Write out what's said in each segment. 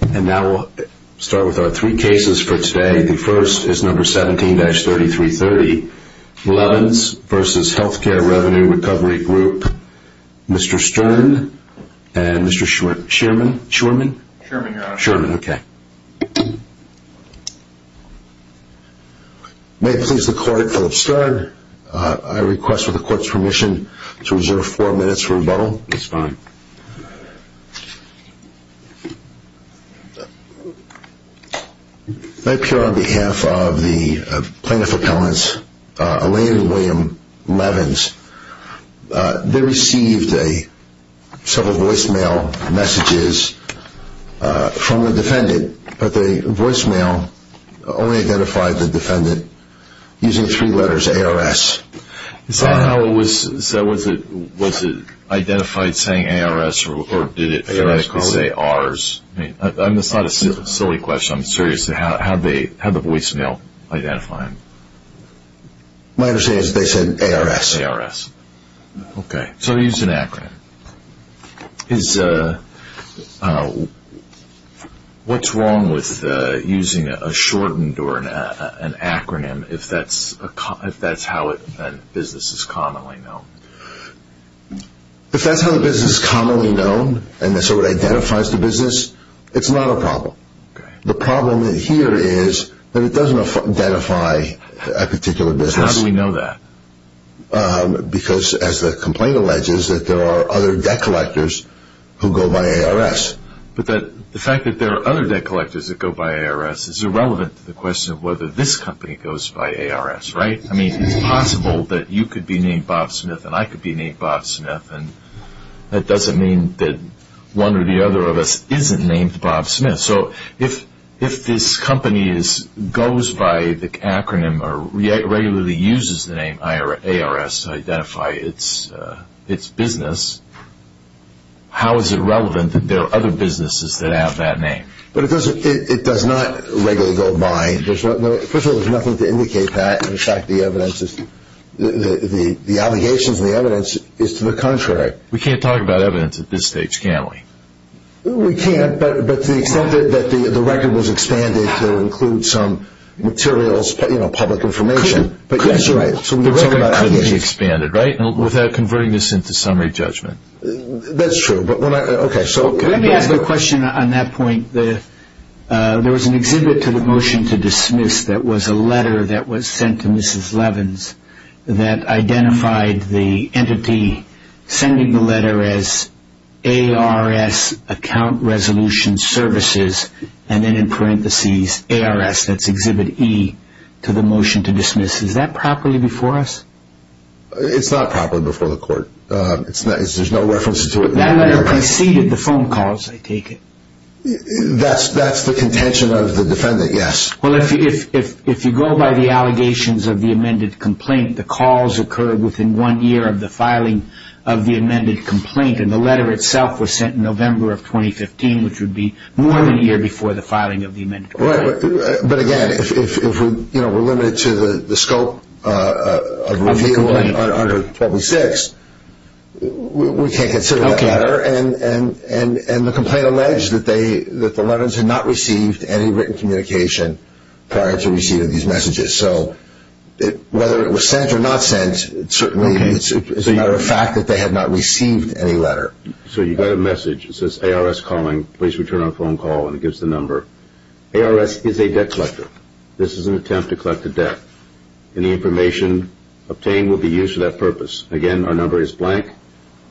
And now we'll start with our three cases for today. The first is number 17-3330. Levins v. Healthcare Revenue Recovery Group. Mr. Stern and Mr. Sherman? Sherman, Your Honor. Sherman, okay. May it please the Court, Philip Stern, I request for the Court's permission to reserve four minutes for rebuttal. That's fine. May it appear on behalf of the plaintiff's opponents, Elaine and William Levins, they received several voicemail messages from the defendant, but the voicemail only identified the defendant using three letters, A-R-S. Is that how it was? Was it identified saying A-R-S, or did it phonetically say R-S? That's not a silly question. I'm serious. How did the voicemail identify him? My understanding is they said A-R-S. Okay. So they used an acronym. What's wrong with using a shortened or an acronym if that's how a business is commonly known? If that's how a business is commonly known and so it identifies the business, it's not a problem. The problem here is that it doesn't identify a particular business. How do we know that? Because, as the complaint alleges, that there are other debt collectors who go by A-R-S. But the fact that there are other debt collectors that go by A-R-S is irrelevant to the question of whether this company goes by A-R-S, right? I mean, it's possible that you could be named Bob Smith and I could be named Bob Smith, and that doesn't mean that one or the other of us isn't named Bob Smith. So if this company goes by the acronym or regularly uses the name A-R-S to identify its business, how is it relevant that there are other businesses that have that name? But it does not regularly go by. First of all, there's nothing to indicate that. In fact, the allegations in the evidence is to the contrary. We can't talk about evidence at this stage, can we? We can't, but to the extent that the record was expanded to include some materials, you know, public information. It could be expanded, right, without converting this into summary judgment? That's true. Let me ask a question on that point. There was an exhibit to the motion to dismiss that was a letter that was sent to Mrs. Levins that identified the entity sending the letter as A-R-S account resolution services, and then in parentheses A-R-S, that's exhibit E, to the motion to dismiss. Is that properly before us? It's not properly before the court. There's no reference to it. That letter preceded the phone calls, I take it. That's the contention of the defendant, yes. Well, if you go by the allegations of the amended complaint, the calls occurred within one year of the filing of the amended complaint, and the letter itself was sent in November of 2015, which would be more than a year before the filing of the amended complaint. Right, but again, if we're limited to the scope of the complaint under 1206, we can't consider that letter. And the complaint alleged that the Levins had not received any written communication prior to receiving these messages, so whether it was sent or not sent, certainly it's a matter of fact that they had not received any letter. So you got a message that says, A-R-S calling, please return our phone call, and it gives the number. A-R-S is a debt collector. This is an attempt to collect a debt. Any information obtained will be used for that purpose. Again, our number is blank.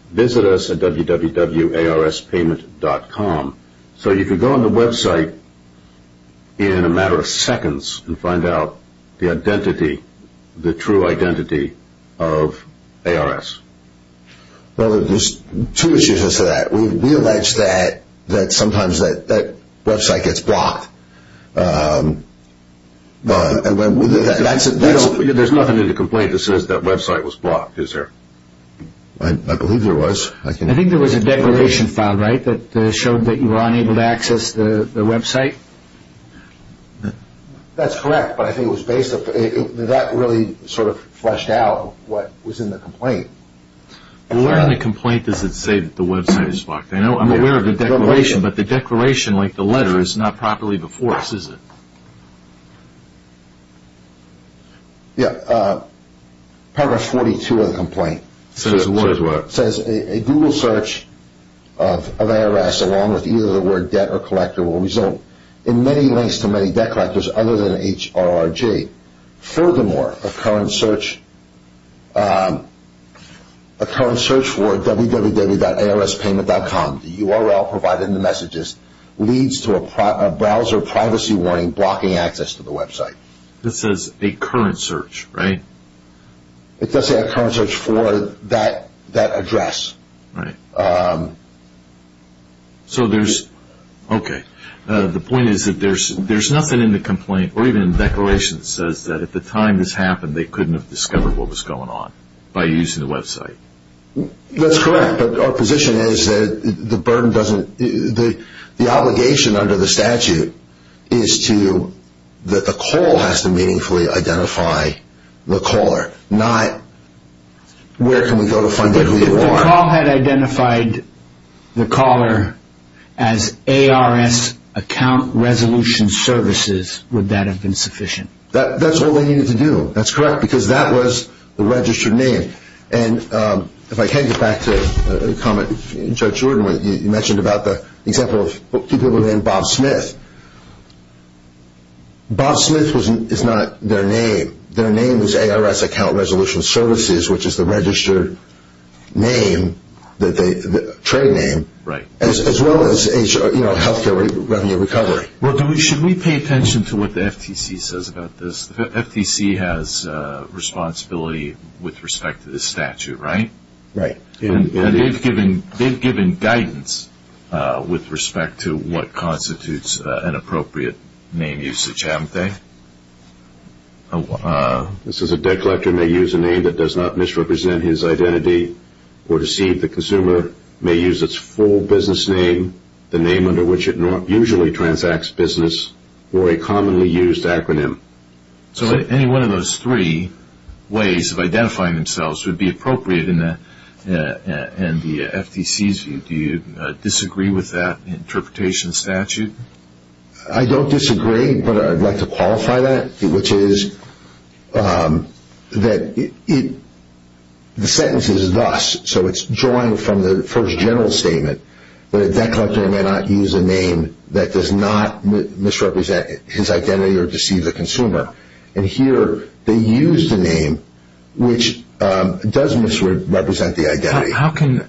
Visit us at www.arspayment.com. So you can go on the website in a matter of seconds and find out the identity, the true identity of A-R-S. Well, there's two issues with that. We allege that sometimes that website gets blocked. There's nothing in the complaint that says that website was blocked, is there? I believe there was. I think there was a declaration file, right, that showed that you were unable to access the website? That's correct, but I think it was based on – that really sort of fleshed out what was in the complaint. Where in the complaint does it say that the website is blocked? I'm aware of the declaration, but the declaration, like the letter, is not properly before us, is it? Yeah, Paragraph 42 of the complaint says, A Google search of A-R-S along with either the word debt or collector will result in many links to many debt collectors other than H-R-R-J. Furthermore, a current search for www.arspayment.com, the URL provided in the messages, leads to a browser privacy warning blocking access to the website. It says a current search, right? It does say a current search for that address. So there's – okay. The point is that there's nothing in the complaint or even in the declaration that says that at the time this happened, they couldn't have discovered what was going on by using the website. That's correct, but our position is that the burden doesn't – the obligation under the statute is to – that the call has to meaningfully identify the caller, not where can we go to find out who you are. If the call had identified the caller as A-R-S Account Resolution Services, would that have been sufficient? That's all they needed to do. That's correct, because that was the registered name. And if I can get back to the comment Judge Jordan made, you mentioned about the example of people named Bob Smith. Bob Smith is not their name. Their name was A-R-S Account Resolution Services, which is the registered name, the trade name, as well as Health Care Revenue Recovery. Well, should we pay attention to what the FTC says about this? The FTC has responsibility with respect to this statute, right? Right. And they've given guidance with respect to what constitutes an appropriate name usage, haven't they? It says a debt collector may use a name that does not misrepresent his identity or deceive the consumer, may use its full business name, the name under which it usually transacts business, or a commonly used acronym. So any one of those three ways of identifying themselves would be appropriate in the FTC's view. Do you disagree with that interpretation statute? I don't disagree, but I'd like to qualify that, which is that the sentence is thus, so it's drawing from the first general statement, that a debt collector may not use a name that does not misrepresent his identity or deceive the consumer. And here they use the name, which does misrepresent the identity. How can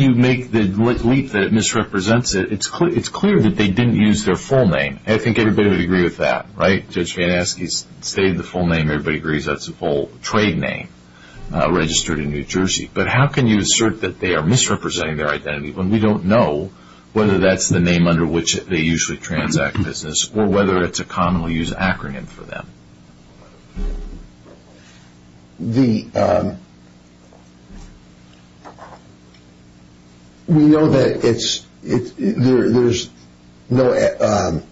you make the leap that it misrepresents it? It's clear that they didn't use their full name. I think everybody would agree with that, right? Judge Van Aske stated the full name. Everybody agrees that's the full trade name registered in New Jersey. But how can you assert that they are misrepresenting their identity when we don't know whether that's the name under which they usually transact business or whether it's a commonly used acronym for them? We know that there's no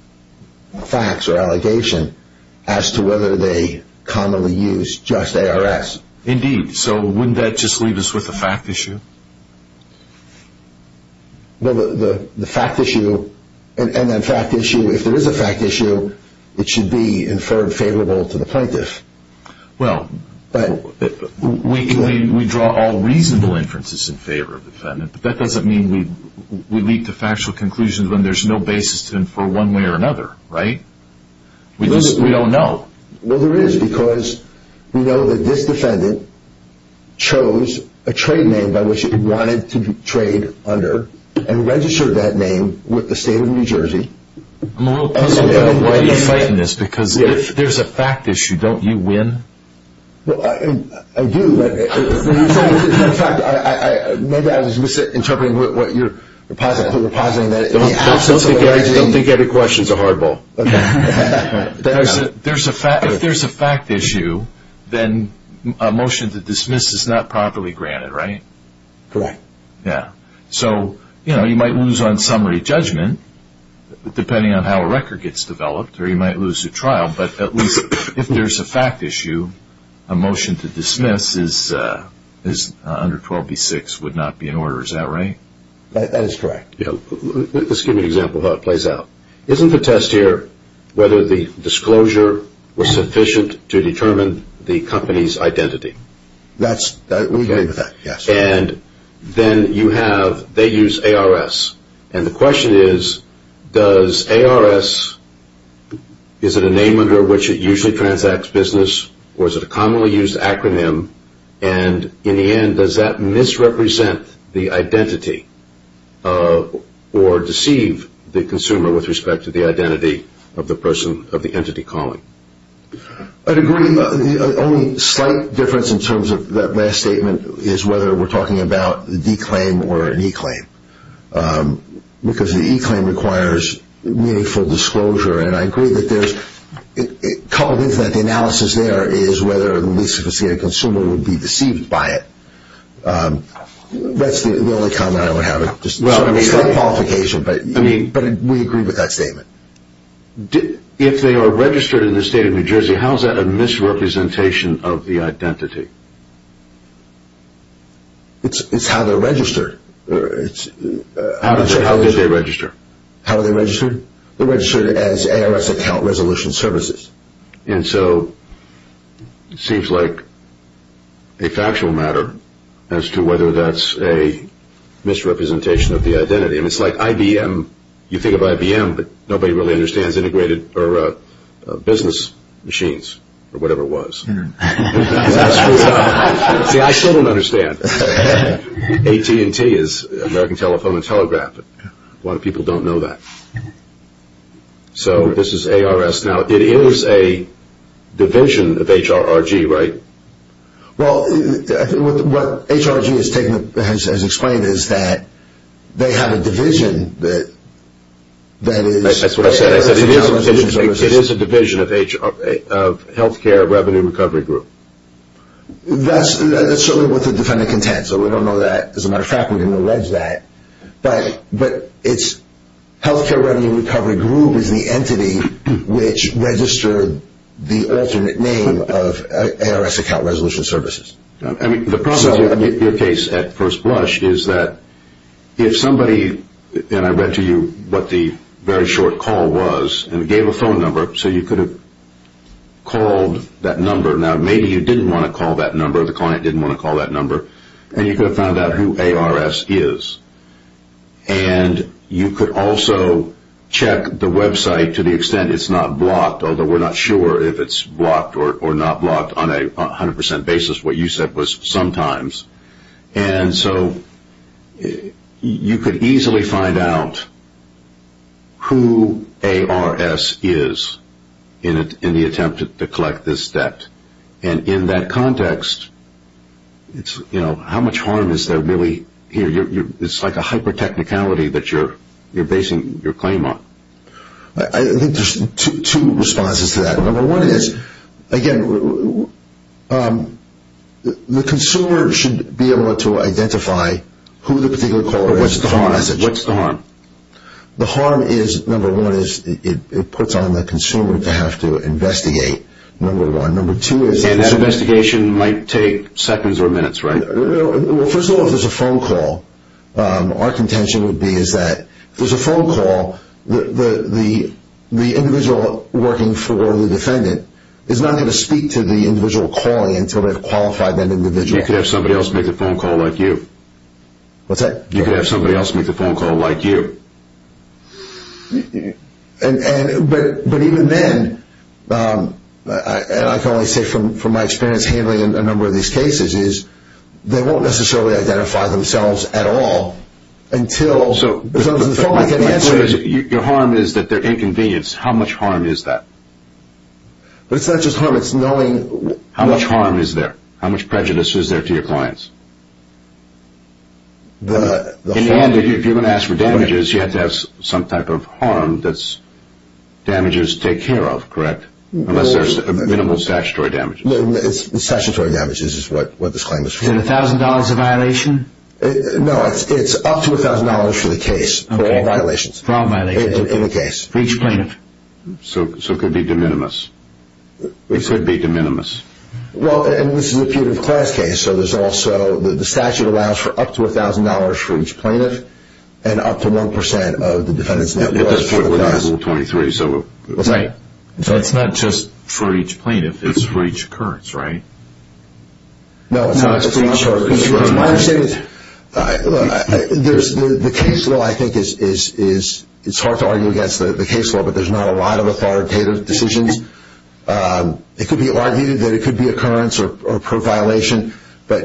facts or allegation as to whether they commonly use just ARS. Indeed. So wouldn't that just leave us with a fact issue? Well, the fact issue, and then fact issue, if there is a fact issue, it should be inferred favorable to the plaintiff. Well, we draw all reasonable inferences in favor of the defendant, but that doesn't mean we leap to factual conclusions when there's no basis to infer one way or another, right? We don't know. Well, there is, because we know that this defendant chose a trade name by which he wanted to trade under and registered that name with the state of New Jersey. I'm a little puzzled about why you're fighting this, because if there's a fact issue, don't you win? Well, I do. In fact, maybe I was misinterpreting what you were positing. Don't think I had a question. It's a hard ball. If there's a fact issue, then a motion to dismiss is not properly granted, right? Correct. So you might lose on summary judgment, depending on how a record gets developed, or you might lose the trial, but at least if there's a fact issue, a motion to dismiss under 12b-6 would not be in order. Is that right? That is correct. Let's give you an example of how it plays out. Isn't the test here whether the disclosure was sufficient to determine the company's identity? That's – we can do that, yes. And then you have – they use ARS, and the question is, does ARS – is it a name under which it usually transacts business, or is it a commonly used acronym, and in the end, does that misrepresent the identity or deceive the consumer with respect to the identity of the person of the entity calling? I'd agree. The only slight difference in terms of that last statement is whether we're talking about the D claim or an E claim, because the E claim requires meaningful disclosure, and I agree that there's – coupled with that, the analysis there is whether at least a consumer would be deceived by it. That's the only comment I would have. It's not a qualification, but we agree with that statement. If they are registered in the state of New Jersey, how is that a misrepresentation of the identity? It's how they're registered. How did they register? How are they registered? They're registered as ARS account resolution services. And so it seems like a factual matter as to whether that's a misrepresentation of the identity. I mean, it's like IBM. You think of IBM, but nobody really understands integrated or business machines or whatever it was. See, I still don't understand. AT&T is American Telephone and Telegraph. A lot of people don't know that. So this is ARS. Now, it is a division of HRG, right? Well, what HRG has explained is that they have a division that is – That's what I said. It is a division of Health Care Revenue Recovery Group. That's certainly what the defendant contends, so we don't know that. As a matter of fact, we didn't allege that. But it's Health Care Revenue Recovery Group is the entity which registered the alternate name of ARS account resolution services. I mean, the problem with your case at First Blush is that if somebody – and I read to you what the very short call was and gave a phone number, so you could have called that number. Now, maybe you didn't want to call that number. The client didn't want to call that number. And you could have found out who ARS is. And you could also check the website to the extent it's not blocked, although we're not sure if it's blocked or not blocked on a 100% basis. What you said was sometimes. And so you could easily find out who ARS is in the attempt to collect this debt. And in that context, how much harm is there really here? It's like a hyper-technicality that you're basing your claim on. I think there's two responses to that. Number one is, again, the consumer should be able to identify who the particular caller is. What's the harm? The harm is, number one, it puts on the consumer to have to investigate, number one. And that investigation might take seconds or minutes, right? Well, first of all, if there's a phone call, our contention would be is that if there's a phone call, the individual working for the defendant is not going to speak to the individual calling until they've qualified that individual. You could have somebody else make the phone call like you. What's that? You could have somebody else make the phone call like you. But even then, and I can only say from my experience handling a number of these cases, is they won't necessarily identify themselves at all until the phone line can answer. Your harm is that they're inconvenienced. How much harm is that? But it's not just harm. How much harm is there? How much prejudice is there to your clients? In the end, if you're going to ask for damages, you have to have some type of harm that damages take care of, correct? Unless there's minimal statutory damages. Statutory damages is what this claim is for. Is it $1,000 a violation? No, it's up to $1,000 for the case. For all violations. For all violations. In the case. For each plaintiff. So it could be de minimis. It could be de minimis. Well, and this is a punitive class case, so there's also the statute allows for up to $1,000 for each plaintiff and up to 1% of the defendant's net worth for the class. Yeah, but that's for the Article 23, so. Right. So it's not just for each plaintiff. It's for each occurrence, right? No. No, it's for each occurrence. The case law, I think, is hard to argue against the case law, but there's not a lot of authoritative decisions. It could be argued that it could be occurrence or pro-violation, but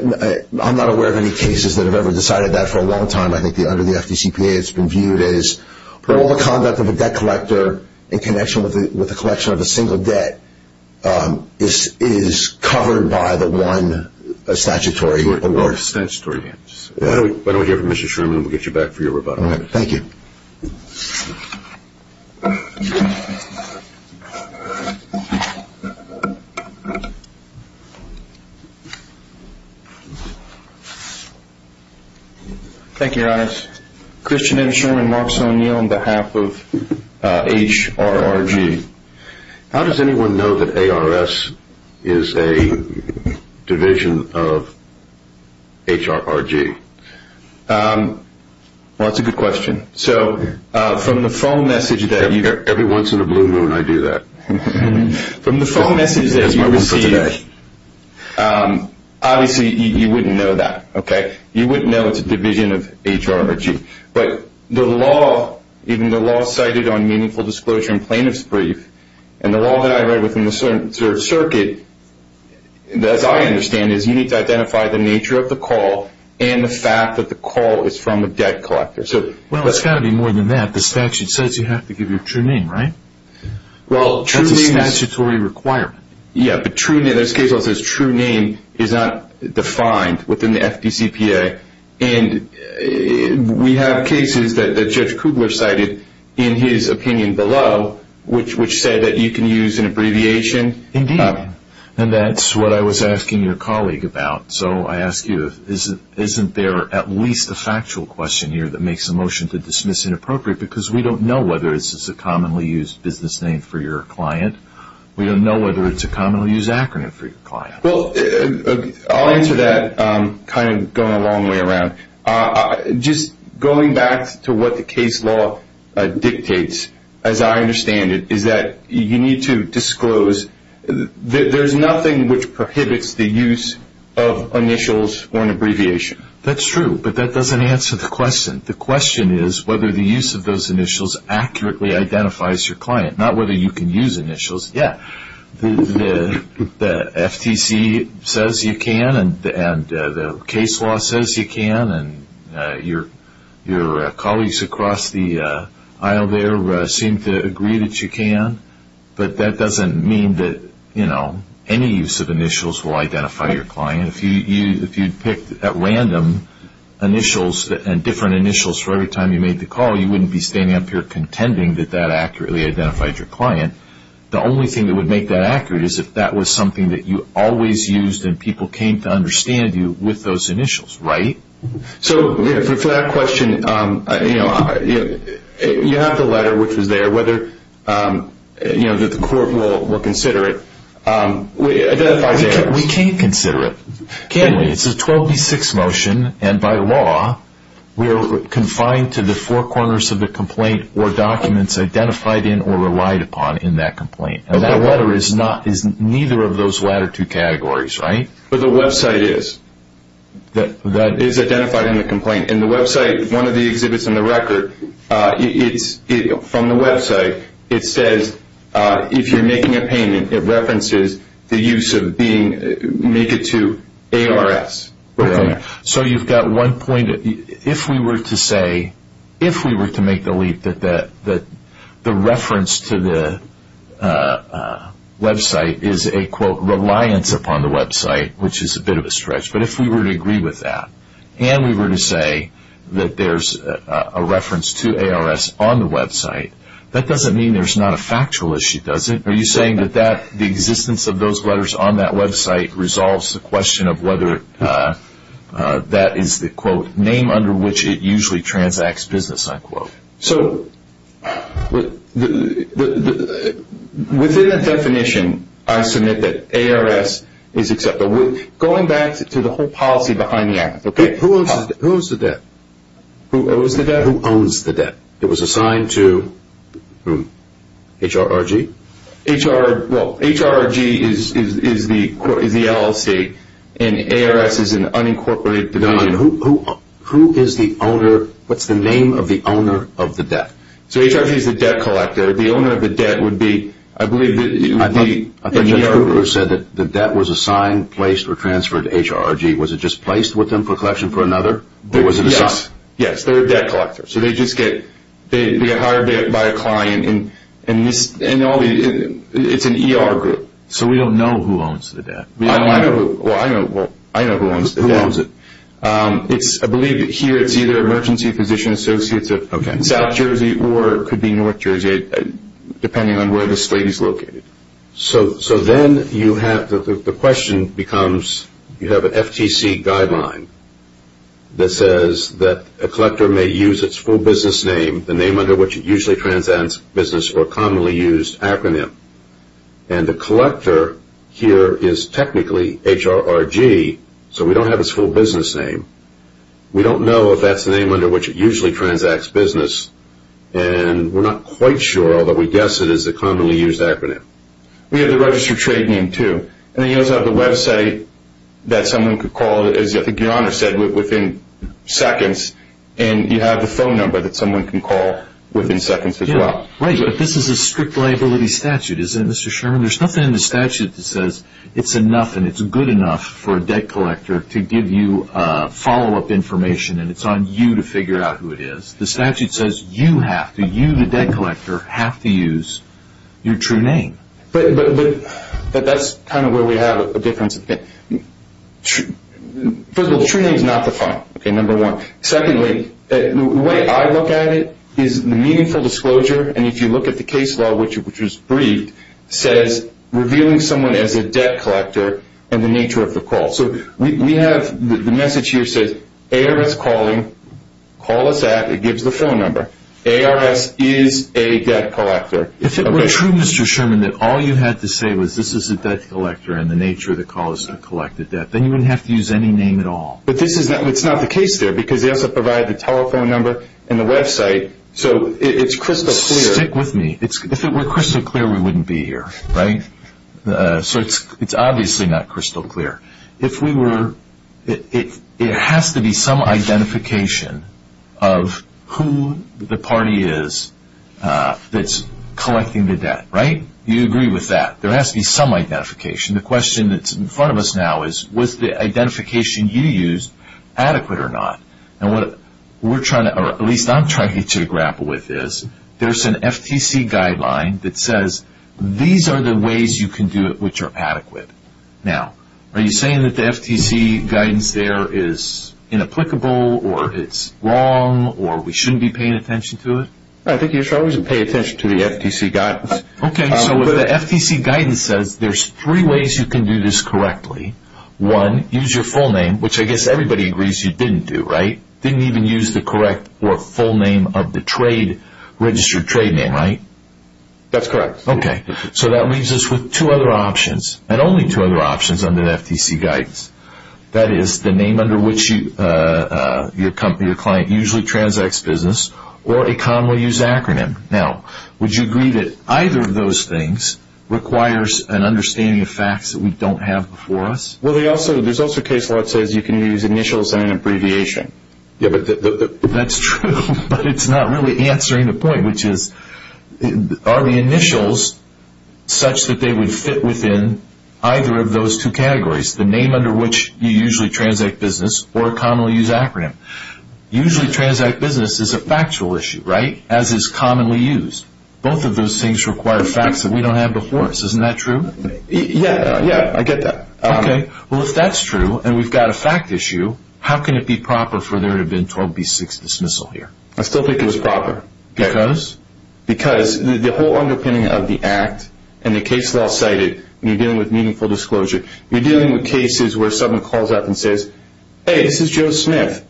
I'm not aware of any cases that have ever decided that for a long time. I think under the FDCPA it's been viewed as all the conduct of a debt collector in connection with the collection of a single debt is covered by the one statutory award. Statutory damages. Why don't we hear from Mr. Sherman and we'll get you back for your rebuttal. All right. Thank you. Thank you, Your Honor. Christian M. Sherman, Marks O'Neill on behalf of HRRG. How does anyone know that ARS is a division of HRRG? Well, that's a good question. So from the phone message that you get. Every once in a blue moon I do that. From the phone message that you receive, obviously you wouldn't know that. You wouldn't know it's a division of HRRG. But the law, even the law cited on meaningful disclosure in plaintiff's brief and the law that I read within the circuit, as I understand it, is you need to identify the nature of the call and the fact that the call is from a debt collector. Well, it's got to be more than that. The statute says you have to give your true name, right? Well, true name is. That's a statutory requirement. Yeah, but true name, there's cases where it says true name is not defined within the FDCPA. And we have cases that Judge Kugler cited in his opinion below, which said that you can use an abbreviation. Indeed. And that's what I was asking your colleague about. So I ask you, isn't there at least a factual question here that makes a motion to dismiss as inappropriate because we don't know whether this is a commonly used business name for your client. We don't know whether it's a commonly used acronym for your client. Well, I'll answer that kind of going a long way around. Just going back to what the case law dictates, as I understand it, is that you need to disclose. There's nothing which prohibits the use of initials or an abbreviation. That's true, but that doesn't answer the question. The question is whether the use of those initials accurately identifies your client, not whether you can use initials. Yeah, the FTC says you can, and the case law says you can, and your colleagues across the aisle there seem to agree that you can. But that doesn't mean that any use of initials will identify your client. If you picked at random initials and different initials for every time you made the call, you wouldn't be standing up here contending that that accurately identified your client. The only thing that would make that accurate is if that was something that you always used and people came to understand you with those initials, right? So for that question, you have the letter, which was there, whether the court will consider it. We can consider it, can't we? It's a 12B6 motion, and by law, we are confined to the four corners of the complaint or documents identified in or relied upon in that complaint. That letter is neither of those latter two categories, right? But the website is. It is identified in the complaint. In the website, one of the exhibits in the record, from the website, it says if you're making a payment, it references the use of being made to ARS. So you've got one point. If we were to say, if we were to make the leap that the reference to the website is a, quote, reliance upon the website, which is a bit of a stretch, but if we were to agree with that and we were to say that there's a reference to ARS on the website, that doesn't mean there's not a factual issue, does it? Are you saying that that, the existence of those letters on that website, resolves the question of whether that is the, quote, name under which it usually transacts business, unquote? So within that definition, I submit that ARS is accepted. Going back to the whole policy behind the act. Who owes the debt? Who owes the debt? Who owns the debt? It was assigned to HRRG. Well, HRRG is the LLC, and ARS is an unincorporated division. Who is the owner? What's the name of the owner of the debt? So HRRG is the debt collector. The owner of the debt would be, I believe, the ERG. I thought Judge Kruger said that the debt was assigned, placed, or transferred to HRRG. Was it just placed with them for collection for another? Yes. Yes, they're a debt collector. So they just get hired by a client, and it's an ER group. So we don't know who owns the debt. Well, I know who owns the debt. Who owns it? I believe that here it's either Emergency Physician Associates of South Jersey or it could be North Jersey, depending on where the state is located. So then you have, the question becomes, you have an FTC guideline that says that a collector may use its full business name, the name under which it usually transacts business, or a commonly used acronym. And the collector here is technically HRRG, so we don't have its full business name. We don't know if that's the name under which it usually transacts business, and we're not quite sure, although we guess it is a commonly used acronym. We have the registered trade name, too. And then you also have the website that someone could call, as I think your Honor said, within seconds. And you have the phone number that someone can call within seconds as well. Right, but this is a strict liability statute, isn't it, Mr. Sherman? There's nothing in the statute that says it's enough and it's good enough for a debt collector to give you follow-up information and it's on you to figure out who it is. The statute says you have to, you, the debt collector, have to use your true name. But that's kind of where we have a difference. First of all, the true name is not the phone, okay, number one. Secondly, the way I look at it is the meaningful disclosure, and if you look at the case law, which was briefed, says revealing someone as a debt collector and the nature of the call. So we have the message here says ARS calling, call us at, it gives the phone number. ARS is a debt collector. If it were true, Mr. Sherman, that all you had to say was this is a debt collector and the nature of the call is to collect the debt, then you wouldn't have to use any name at all. But it's not the case there because they also provide the telephone number and the website, so it's crystal clear. Stick with me. If it were crystal clear, we wouldn't be here, right? So it's obviously not crystal clear. If we were, it has to be some identification of who the party is that's collecting the debt, right? You agree with that. There has to be some identification. The question that's in front of us now is was the identification you used adequate or not? And what we're trying to, or at least I'm trying to grapple with is there's an FTC guideline that says these are the ways you can do it which are adequate. Now, are you saying that the FTC guidance there is inapplicable or it's wrong or we shouldn't be paying attention to it? I think you should always pay attention to the FTC guidance. Okay. So what the FTC guidance says, there's three ways you can do this correctly. One, use your full name, which I guess everybody agrees you didn't do, right? Didn't even use the correct or full name of the registered trade name, right? That's correct. Okay. So that leaves us with two other options. And only two other options under the FTC guidance. That is the name under which your company or client usually transacts business or a commonly used acronym. Now, would you agree that either of those things requires an understanding of facts that we don't have before us? Well, there's also a case law that says you can use initials and an abbreviation. That's true, but it's not really answering the point, which is are the initials such that they would fit within either of those two categories, the name under which you usually transact business or a commonly used acronym. Usually transact business is a factual issue, right, as is commonly used. Both of those things require facts that we don't have before us. Isn't that true? Yeah, I get that. Okay. Well, if that's true and we've got a fact issue, how can it be proper for there to have been 12B6 dismissal here? I still think it was proper. Because? Because the whole underpinning of the Act and the case law cited when you're dealing with meaningful disclosure, you're dealing with cases where someone calls up and says, hey, this is Joe Smith,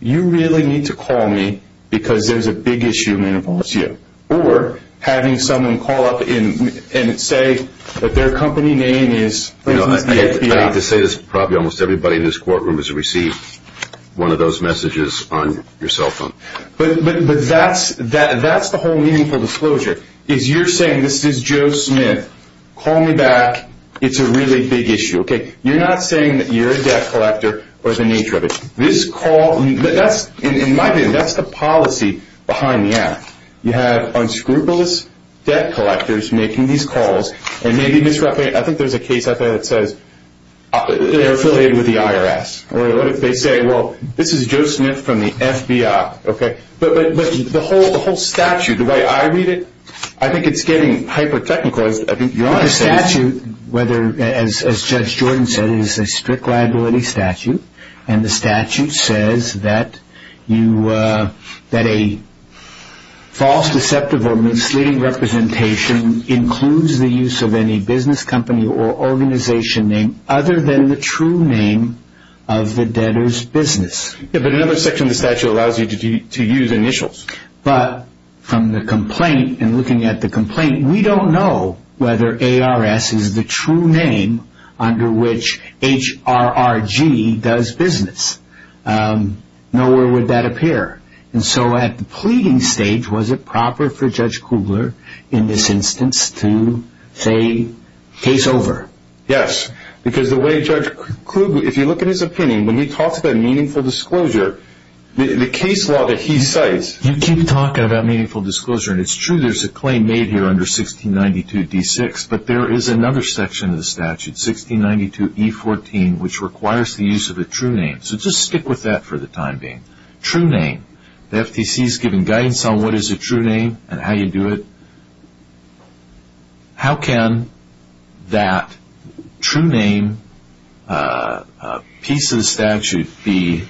you really need to call me because there's a big issue that involves you. Or having someone call up and say that their company name is, for instance, the FBI. I hate to say this, but probably almost everybody in this courtroom has received one of those messages on your cell phone. But that's the whole meaningful disclosure, is you're saying, this is Joe Smith, call me back, it's a really big issue. You're not saying that you're a debt collector or the nature of it. In my view, that's the policy behind the Act. You have unscrupulous debt collectors making these calls and maybe misrepresenting. I think there's a case out there that says they're affiliated with the IRS. Or what if they say, well, this is Joe Smith from the FBI. But the whole statute, the way I read it, I think it's getting hyper-technical. The statute, as Judge Jordan said, is a strict liability statute. And the statute says that a false, deceptive or misleading representation includes the use of any business company or organization name other than the true name of the debtor's business. Yeah, but another section of the statute allows you to use initials. But from the complaint and looking at the complaint, we don't know whether ARS is the true name under which HRRG does business. Nowhere would that appear. And so at the pleading stage, was it proper for Judge Kugler, in this instance, to say case over? Yes, because the way Judge Kugler, if you look at his opinion, when he talks about meaningful disclosure, the case law that he cites You keep talking about meaningful disclosure, and it's true there's a claim made here under 1692d6. But there is another section of the statute, 1692e14, which requires the use of a true name. So just stick with that for the time being. True name. The FTC is giving guidance on what is a true name and how you do it. How can that true name piece of the statute be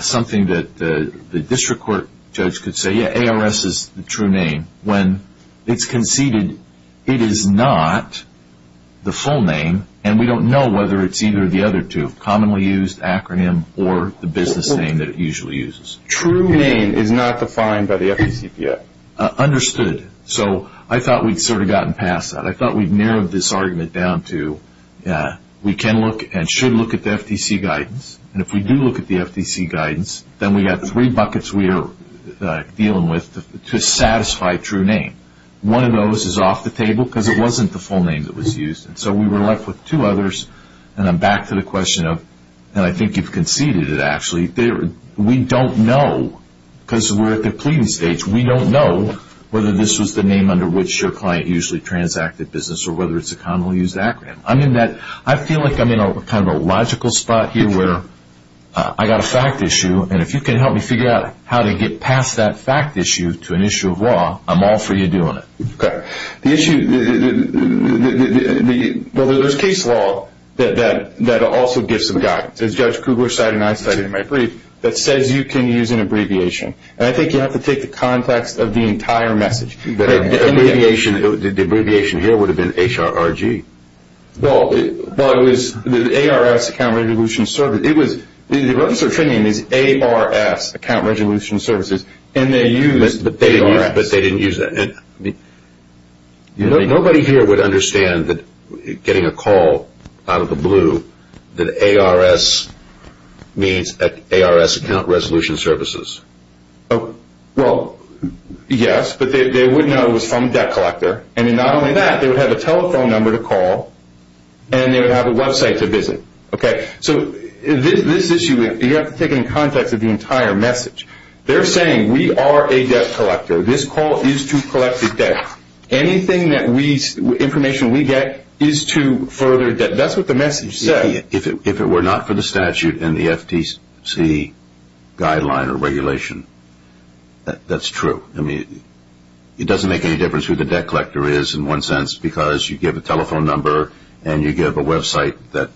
something that the district court judge could say, yeah, ARS is the true name, when it's conceded it is not the full name, and we don't know whether it's either the other two, commonly used acronym, or the business name that it usually uses. True name is not defined by the FTC yet. Understood. So I thought we'd sort of gotten past that. I thought we'd narrowed this argument down to we can look and should look at the FTC guidance. And if we do look at the FTC guidance, then we've got three buckets we are dealing with to satisfy true name. One of those is off the table because it wasn't the full name that was used. So we were left with two others, and I'm back to the question of, and I think you've conceded it actually, we don't know because we're at the pleading stage. We don't know whether this was the name under which your client usually transacted business or whether it's a commonly used acronym. I feel like I'm in kind of a logical spot here where I've got a fact issue, and if you can help me figure out how to get past that fact issue to an issue of law, I'm all for you doing it. Okay. The issue, well, there's case law that also gives some guidance. As Judge Kugler cited, and I cited in my brief, that says you can use an abbreviation. And I think you have to take the context of the entire message. The abbreviation here would have been HRRG. Well, it was the ARS, Account Resolution Service. The register training is ARS, Account Resolution Services, and they used the ARS. But they didn't use that. Nobody here would understand that getting a call out of the blue that ARS means ARS, Account Resolution Services. Well, yes, but they would know it was from a debt collector. And not only that, they would have a telephone number to call, and they would have a website to visit. Okay. So this issue, you have to take it in context of the entire message. They're saying we are a debt collector. This call is to collect the debt. Anything information we get is to further debt. That's what the message said. If it were not for the statute and the FTC guideline or regulation, that's true. I mean, it doesn't make any difference who the debt collector is in one sense, because you give a telephone number and you give a website that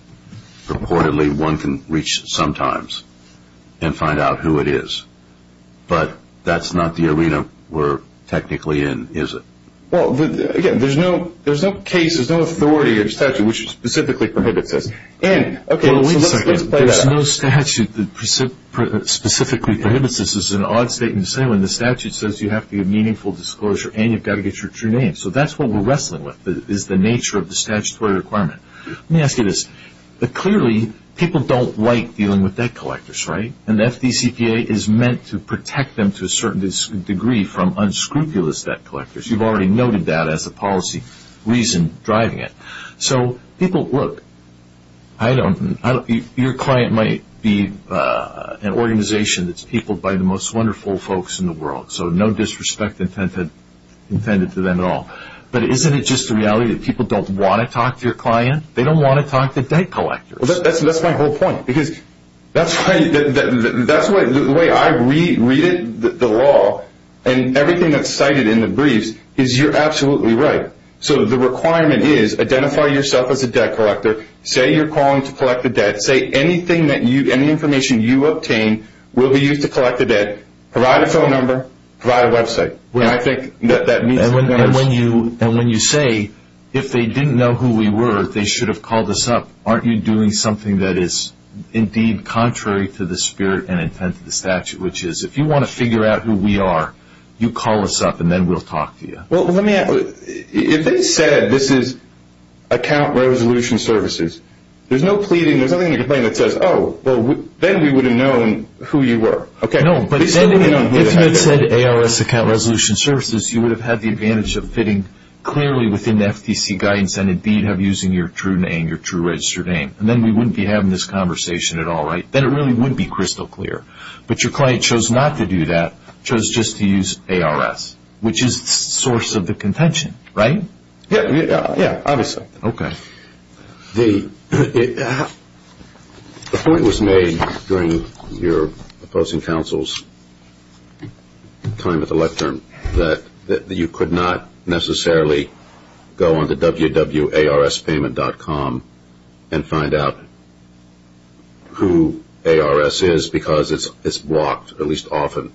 reportedly one can reach sometimes and find out who it is. But that's not the arena we're technically in, is it? Well, again, there's no case, there's no authority or statute which specifically prohibits this. And, okay, let's play that. Well, wait a second. There's no statute that specifically prohibits this. This is an odd statement to say when the statute says you have to give meaningful disclosure and you've got to get your true name. So that's what we're wrestling with is the nature of the statutory requirement. Let me ask you this. Clearly, people don't like dealing with debt collectors, right? And the FDCPA is meant to protect them to a certain degree from unscrupulous debt collectors. You've already noted that as a policy reason driving it. So people, look, your client might be an organization that's peopled by the most wonderful folks in the world. So no disrespect intended to them at all. But isn't it just the reality that people don't want to talk to your client? They don't want to talk to debt collectors. That's my whole point because that's why the way I read the law and everything that's cited in the briefs is you're absolutely right. So the requirement is identify yourself as a debt collector. Say you're calling to collect the debt. Say any information you obtain will be used to collect the debt. Provide a phone number. Provide a website. And when you say if they didn't know who we were, they should have called us up, aren't you doing something that is indeed contrary to the spirit and intent of the statute, which is if you want to figure out who we are, you call us up and then we'll talk to you. Well, if they said this is account resolution services, there's no pleading, there's nothing in the complaint that says, oh, well, then we would have known who you were. No, but if you had said ARS account resolution services, you would have had the advantage of fitting clearly within the FTC guidance and indeed of using your true name, your true registered name. And then we wouldn't be having this conversation at all, right? Then it really would be crystal clear. But your client chose not to do that, chose just to use ARS, which is the source of the contention, right? Yeah, obviously. Okay. The point was made during your opposing counsel's time at the lectern that you could not necessarily go onto www.arspayment.com and find out who ARS is because it's blocked, at least often.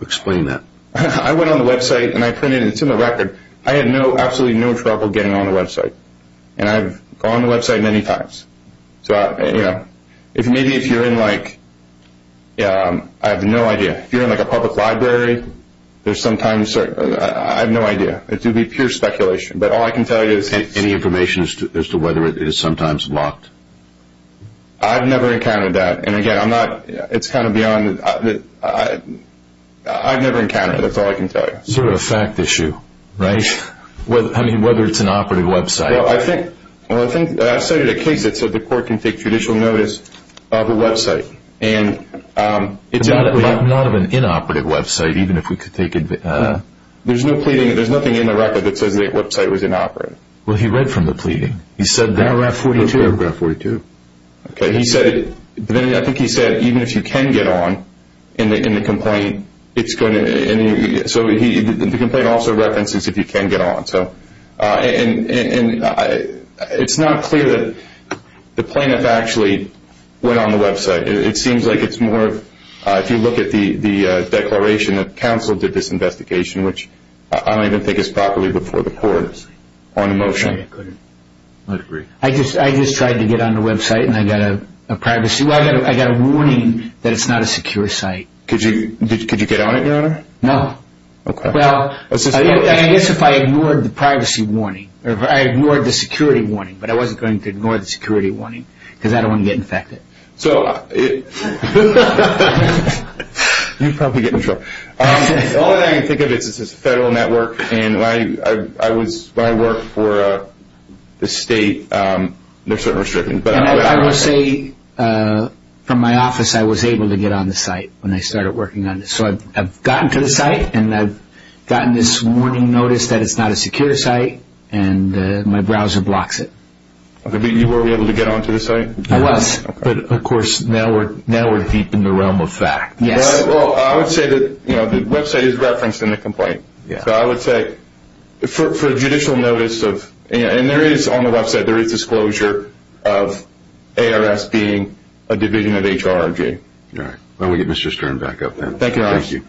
Explain that. I went on the website and I printed it into my record. I had absolutely no trouble getting on the website. And I've gone on the website many times. Maybe if you're in, like, I have no idea. If you're in, like, a public library, there's sometimes – I have no idea. It would be pure speculation. But all I can tell you is – Any information as to whether it is sometimes blocked? I've never encountered that. And, again, I'm not – it's kind of beyond – I've never encountered it. That's all I can tell you. It's sort of a fact issue, right? I mean, whether it's an operative website. Well, I think – I've cited a case that said the court can take judicial notice of a website. And it's – But not of an inoperative website, even if we could take – There's no pleading. There's nothing in the record that says the website was inoperative. Well, he read from the pleading. He said that. In paragraph 42. Okay. He said – I think he said even if you can get on in the complaint, it's going to – So he – the complaint also references if you can get on. So – and it's not clear that the plaintiff actually went on the website. It seems like it's more – if you look at the declaration that counsel did this investigation, which I don't even think is properly before the court on a motion. I couldn't agree. I just tried to get on the website, and I got a privacy – well, I got a warning that it's not a secure site. Could you get on it, Your Honor? No. Okay. Well – And I guess if I ignored the privacy warning – or if I ignored the security warning, but I wasn't going to ignore the security warning because I don't want to get infected. So – You'd probably get in trouble. All I can think of is it's a federal network, and I was – when I worked for the state, they're certainly restricting, but – And I will say from my office, I was able to get on the site when I started working on this. So I've gotten to the site, and I've gotten this warning notice that it's not a secure site, and my browser blocks it. You were able to get onto the site? I was. But, of course, now we're deep in the realm of fact. Yes. Well, I would say that the website is referenced in the complaint. So I would say for judicial notice of – and there is, on the website, there is disclosure of ARS being a division of HRJ. All right. Why don't we get Mr. Stern back up then. Thank you, Your Honor. Thank you.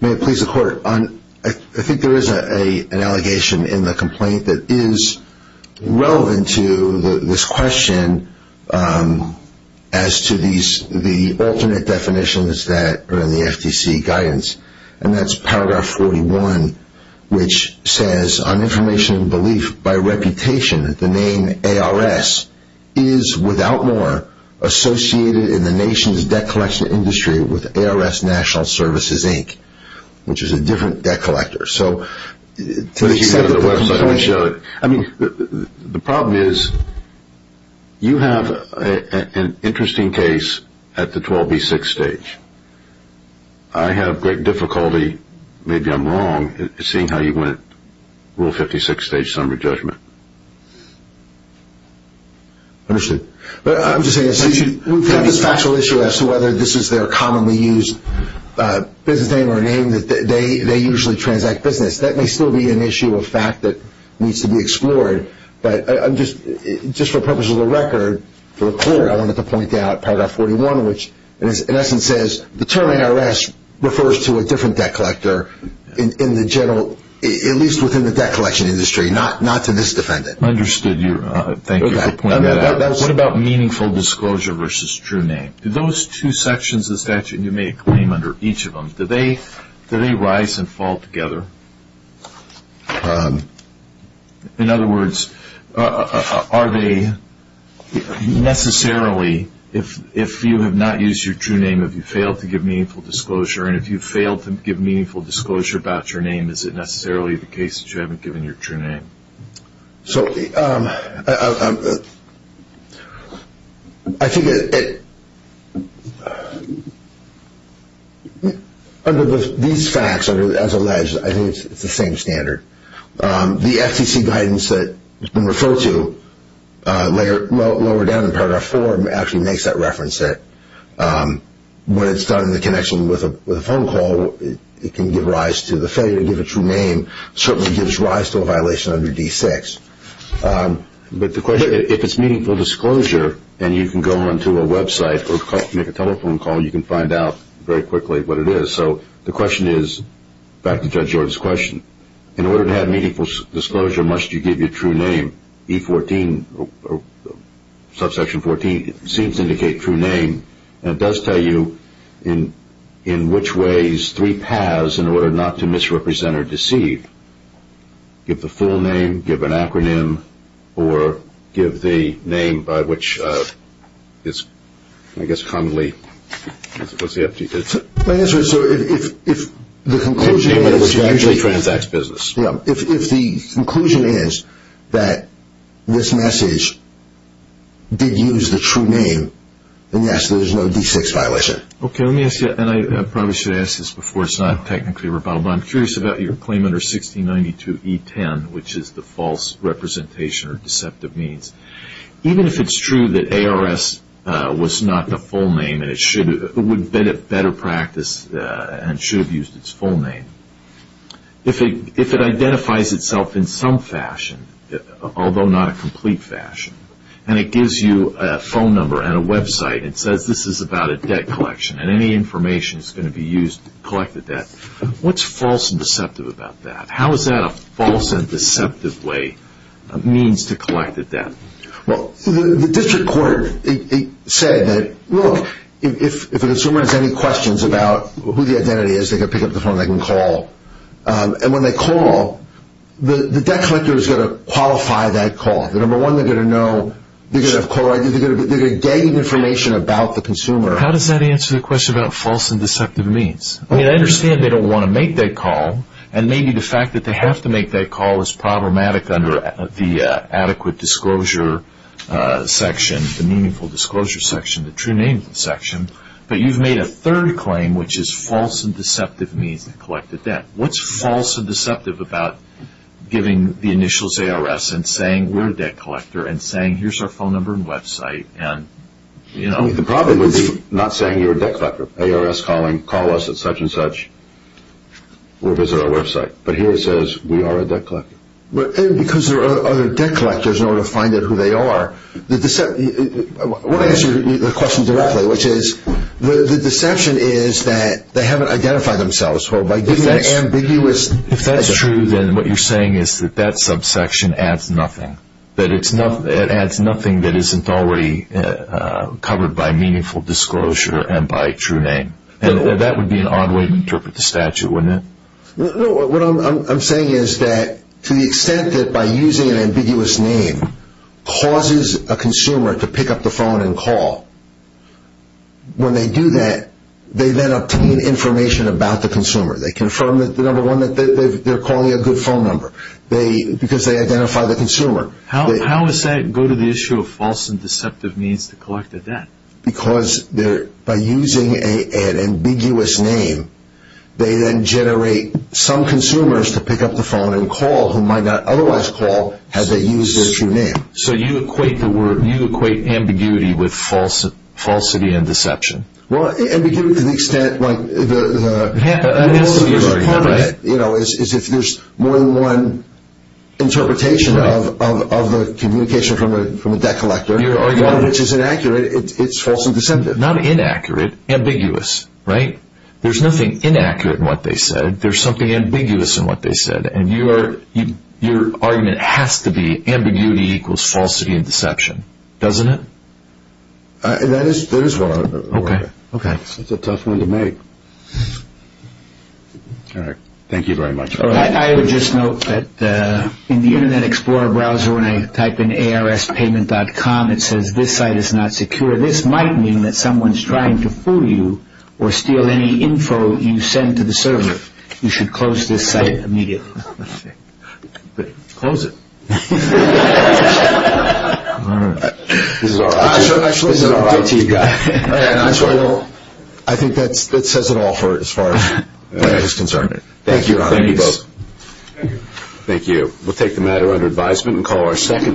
May it please the Court. I think there is an allegation in the complaint that is relevant to this question as to the alternate definitions that are in the FTC guidance, and that's paragraph 41, which says, on information and belief by reputation, the name ARS is, without more, associated in the nation's debt collection industry with ARS National Services, Inc., which is a different debt collector. So to the extent that the website would show it – I mean, the problem is you have an interesting case at the 12B6 stage. I have great difficulty – maybe I'm wrong – seeing how you went at Rule 56 stage summary judgment. Understood. But I'm just saying, we have this factual issue as to whether this is their commonly used business name or name that they usually transact business. That may still be an issue of fact that needs to be explored. But just for the purpose of the record, for the Court, I wanted to point out paragraph 41, which, in essence, says, the term ARS refers to a different debt collector in the general – at least within the debt collection industry, not to misdefend it. Understood. Thank you for pointing that out. What about meaningful disclosure versus true name? Do those two sections of the statute you make claim under each of them, do they rise and fall together? In other words, are they necessarily – if you have not used your true name, have you failed to give meaningful disclosure? And if you've failed to give meaningful disclosure about your name, is it necessarily the case that you haven't given your true name? So I think it – under these facts, as alleged, I think it's the same standard. The FCC guidance that's been referred to lower down in paragraph four actually makes that reference there. When it's done in the connection with a phone call, it can give rise to the failure to give a true name. It certainly gives rise to a violation under D6. But the question – if it's meaningful disclosure, and you can go onto a website or make a telephone call, you can find out very quickly what it is. So the question is – back to Judge Jordan's question. In order to have meaningful disclosure, must you give your true name? E14, subsection 14, seems to indicate true name. And it does tell you in which ways, three paths, in order not to misrepresent or deceive. Give the full name, give an acronym, or give the name by which it's, I guess, commonly – My answer is, sir, if the conclusion is that this message did use the true name, then yes, there is no D6 violation. Okay, let me ask you – and I probably should have asked this before. It's not technically rebuttable. But I'm curious about your claim under 1692E10, which is the false representation or deceptive means. Even if it's true that ARS was not the full name, and it would have been a better practice and should have used its full name, if it identifies itself in some fashion, although not a complete fashion, and it gives you a phone number and a website and says this is about a debt collection and any information that's going to be used to collect the debt, what's false and deceptive about that? How is that a false and deceptive way, a means to collect the debt? Well, the district court said that, look, if a consumer has any questions about who the identity is, they can pick up the phone, they can call. And when they call, the debt collector is going to qualify that call. Number one, they're going to know – they're going to get information about the consumer. How does that answer the question about false and deceptive means? I mean, I understand they don't want to make that call, and maybe the fact that they have to make that call is problematic under the adequate disclosure section, the meaningful disclosure section, the true name section. But you've made a third claim, which is false and deceptive means to collect the debt. What's false and deceptive about giving the initials ARS and saying we're a debt collector and saying here's our phone number and website? The problem would be not saying you're a debt collector. ARS calling, call us at such and such, or visit our website. But here it says we are a debt collector. Because there are other debt collectors in order to find out who they are. I want to answer the question directly, which is the deception is that they haven't identified themselves. If that's true, then what you're saying is that that subsection adds nothing. It adds nothing that isn't already covered by meaningful disclosure and by true name. That would be an odd way to interpret the statute, wouldn't it? What I'm saying is that to the extent that by using an ambiguous name causes a consumer to pick up the phone and call, when they do that, they then obtain information about the consumer. They confirm, number one, that they're calling a good phone number because they identify the consumer. How does that go to the issue of false and deceptive means to collect the debt? Because by using an ambiguous name, they then generate some consumers to pick up the phone and call who might not otherwise call had they used their true name. So you equate ambiguity with falsity and deception. Ambiguity to the extent... The problem is if there's more than one interpretation of the communication from a debt collector, which is inaccurate, it's false and deceptive. Not inaccurate, ambiguous. There's nothing inaccurate in what they said. There's something ambiguous in what they said. Your argument has to be ambiguity equals falsity and deception, doesn't it? That is what I would argue. Okay. It's a tough one to make. All right. Thank you very much. I would just note that in the Internet Explorer browser, when I type in ARSPayment.com, it says this site is not secure. This might mean that someone's trying to fool you or steal any info you send to the server. You should close this site immediately. Close it. All right. This is our IT guy. I think that says it all as far as I'm concerned. Thank you. Thank you both. Thank you. Thank you. We'll take the matter under advisement and call our second...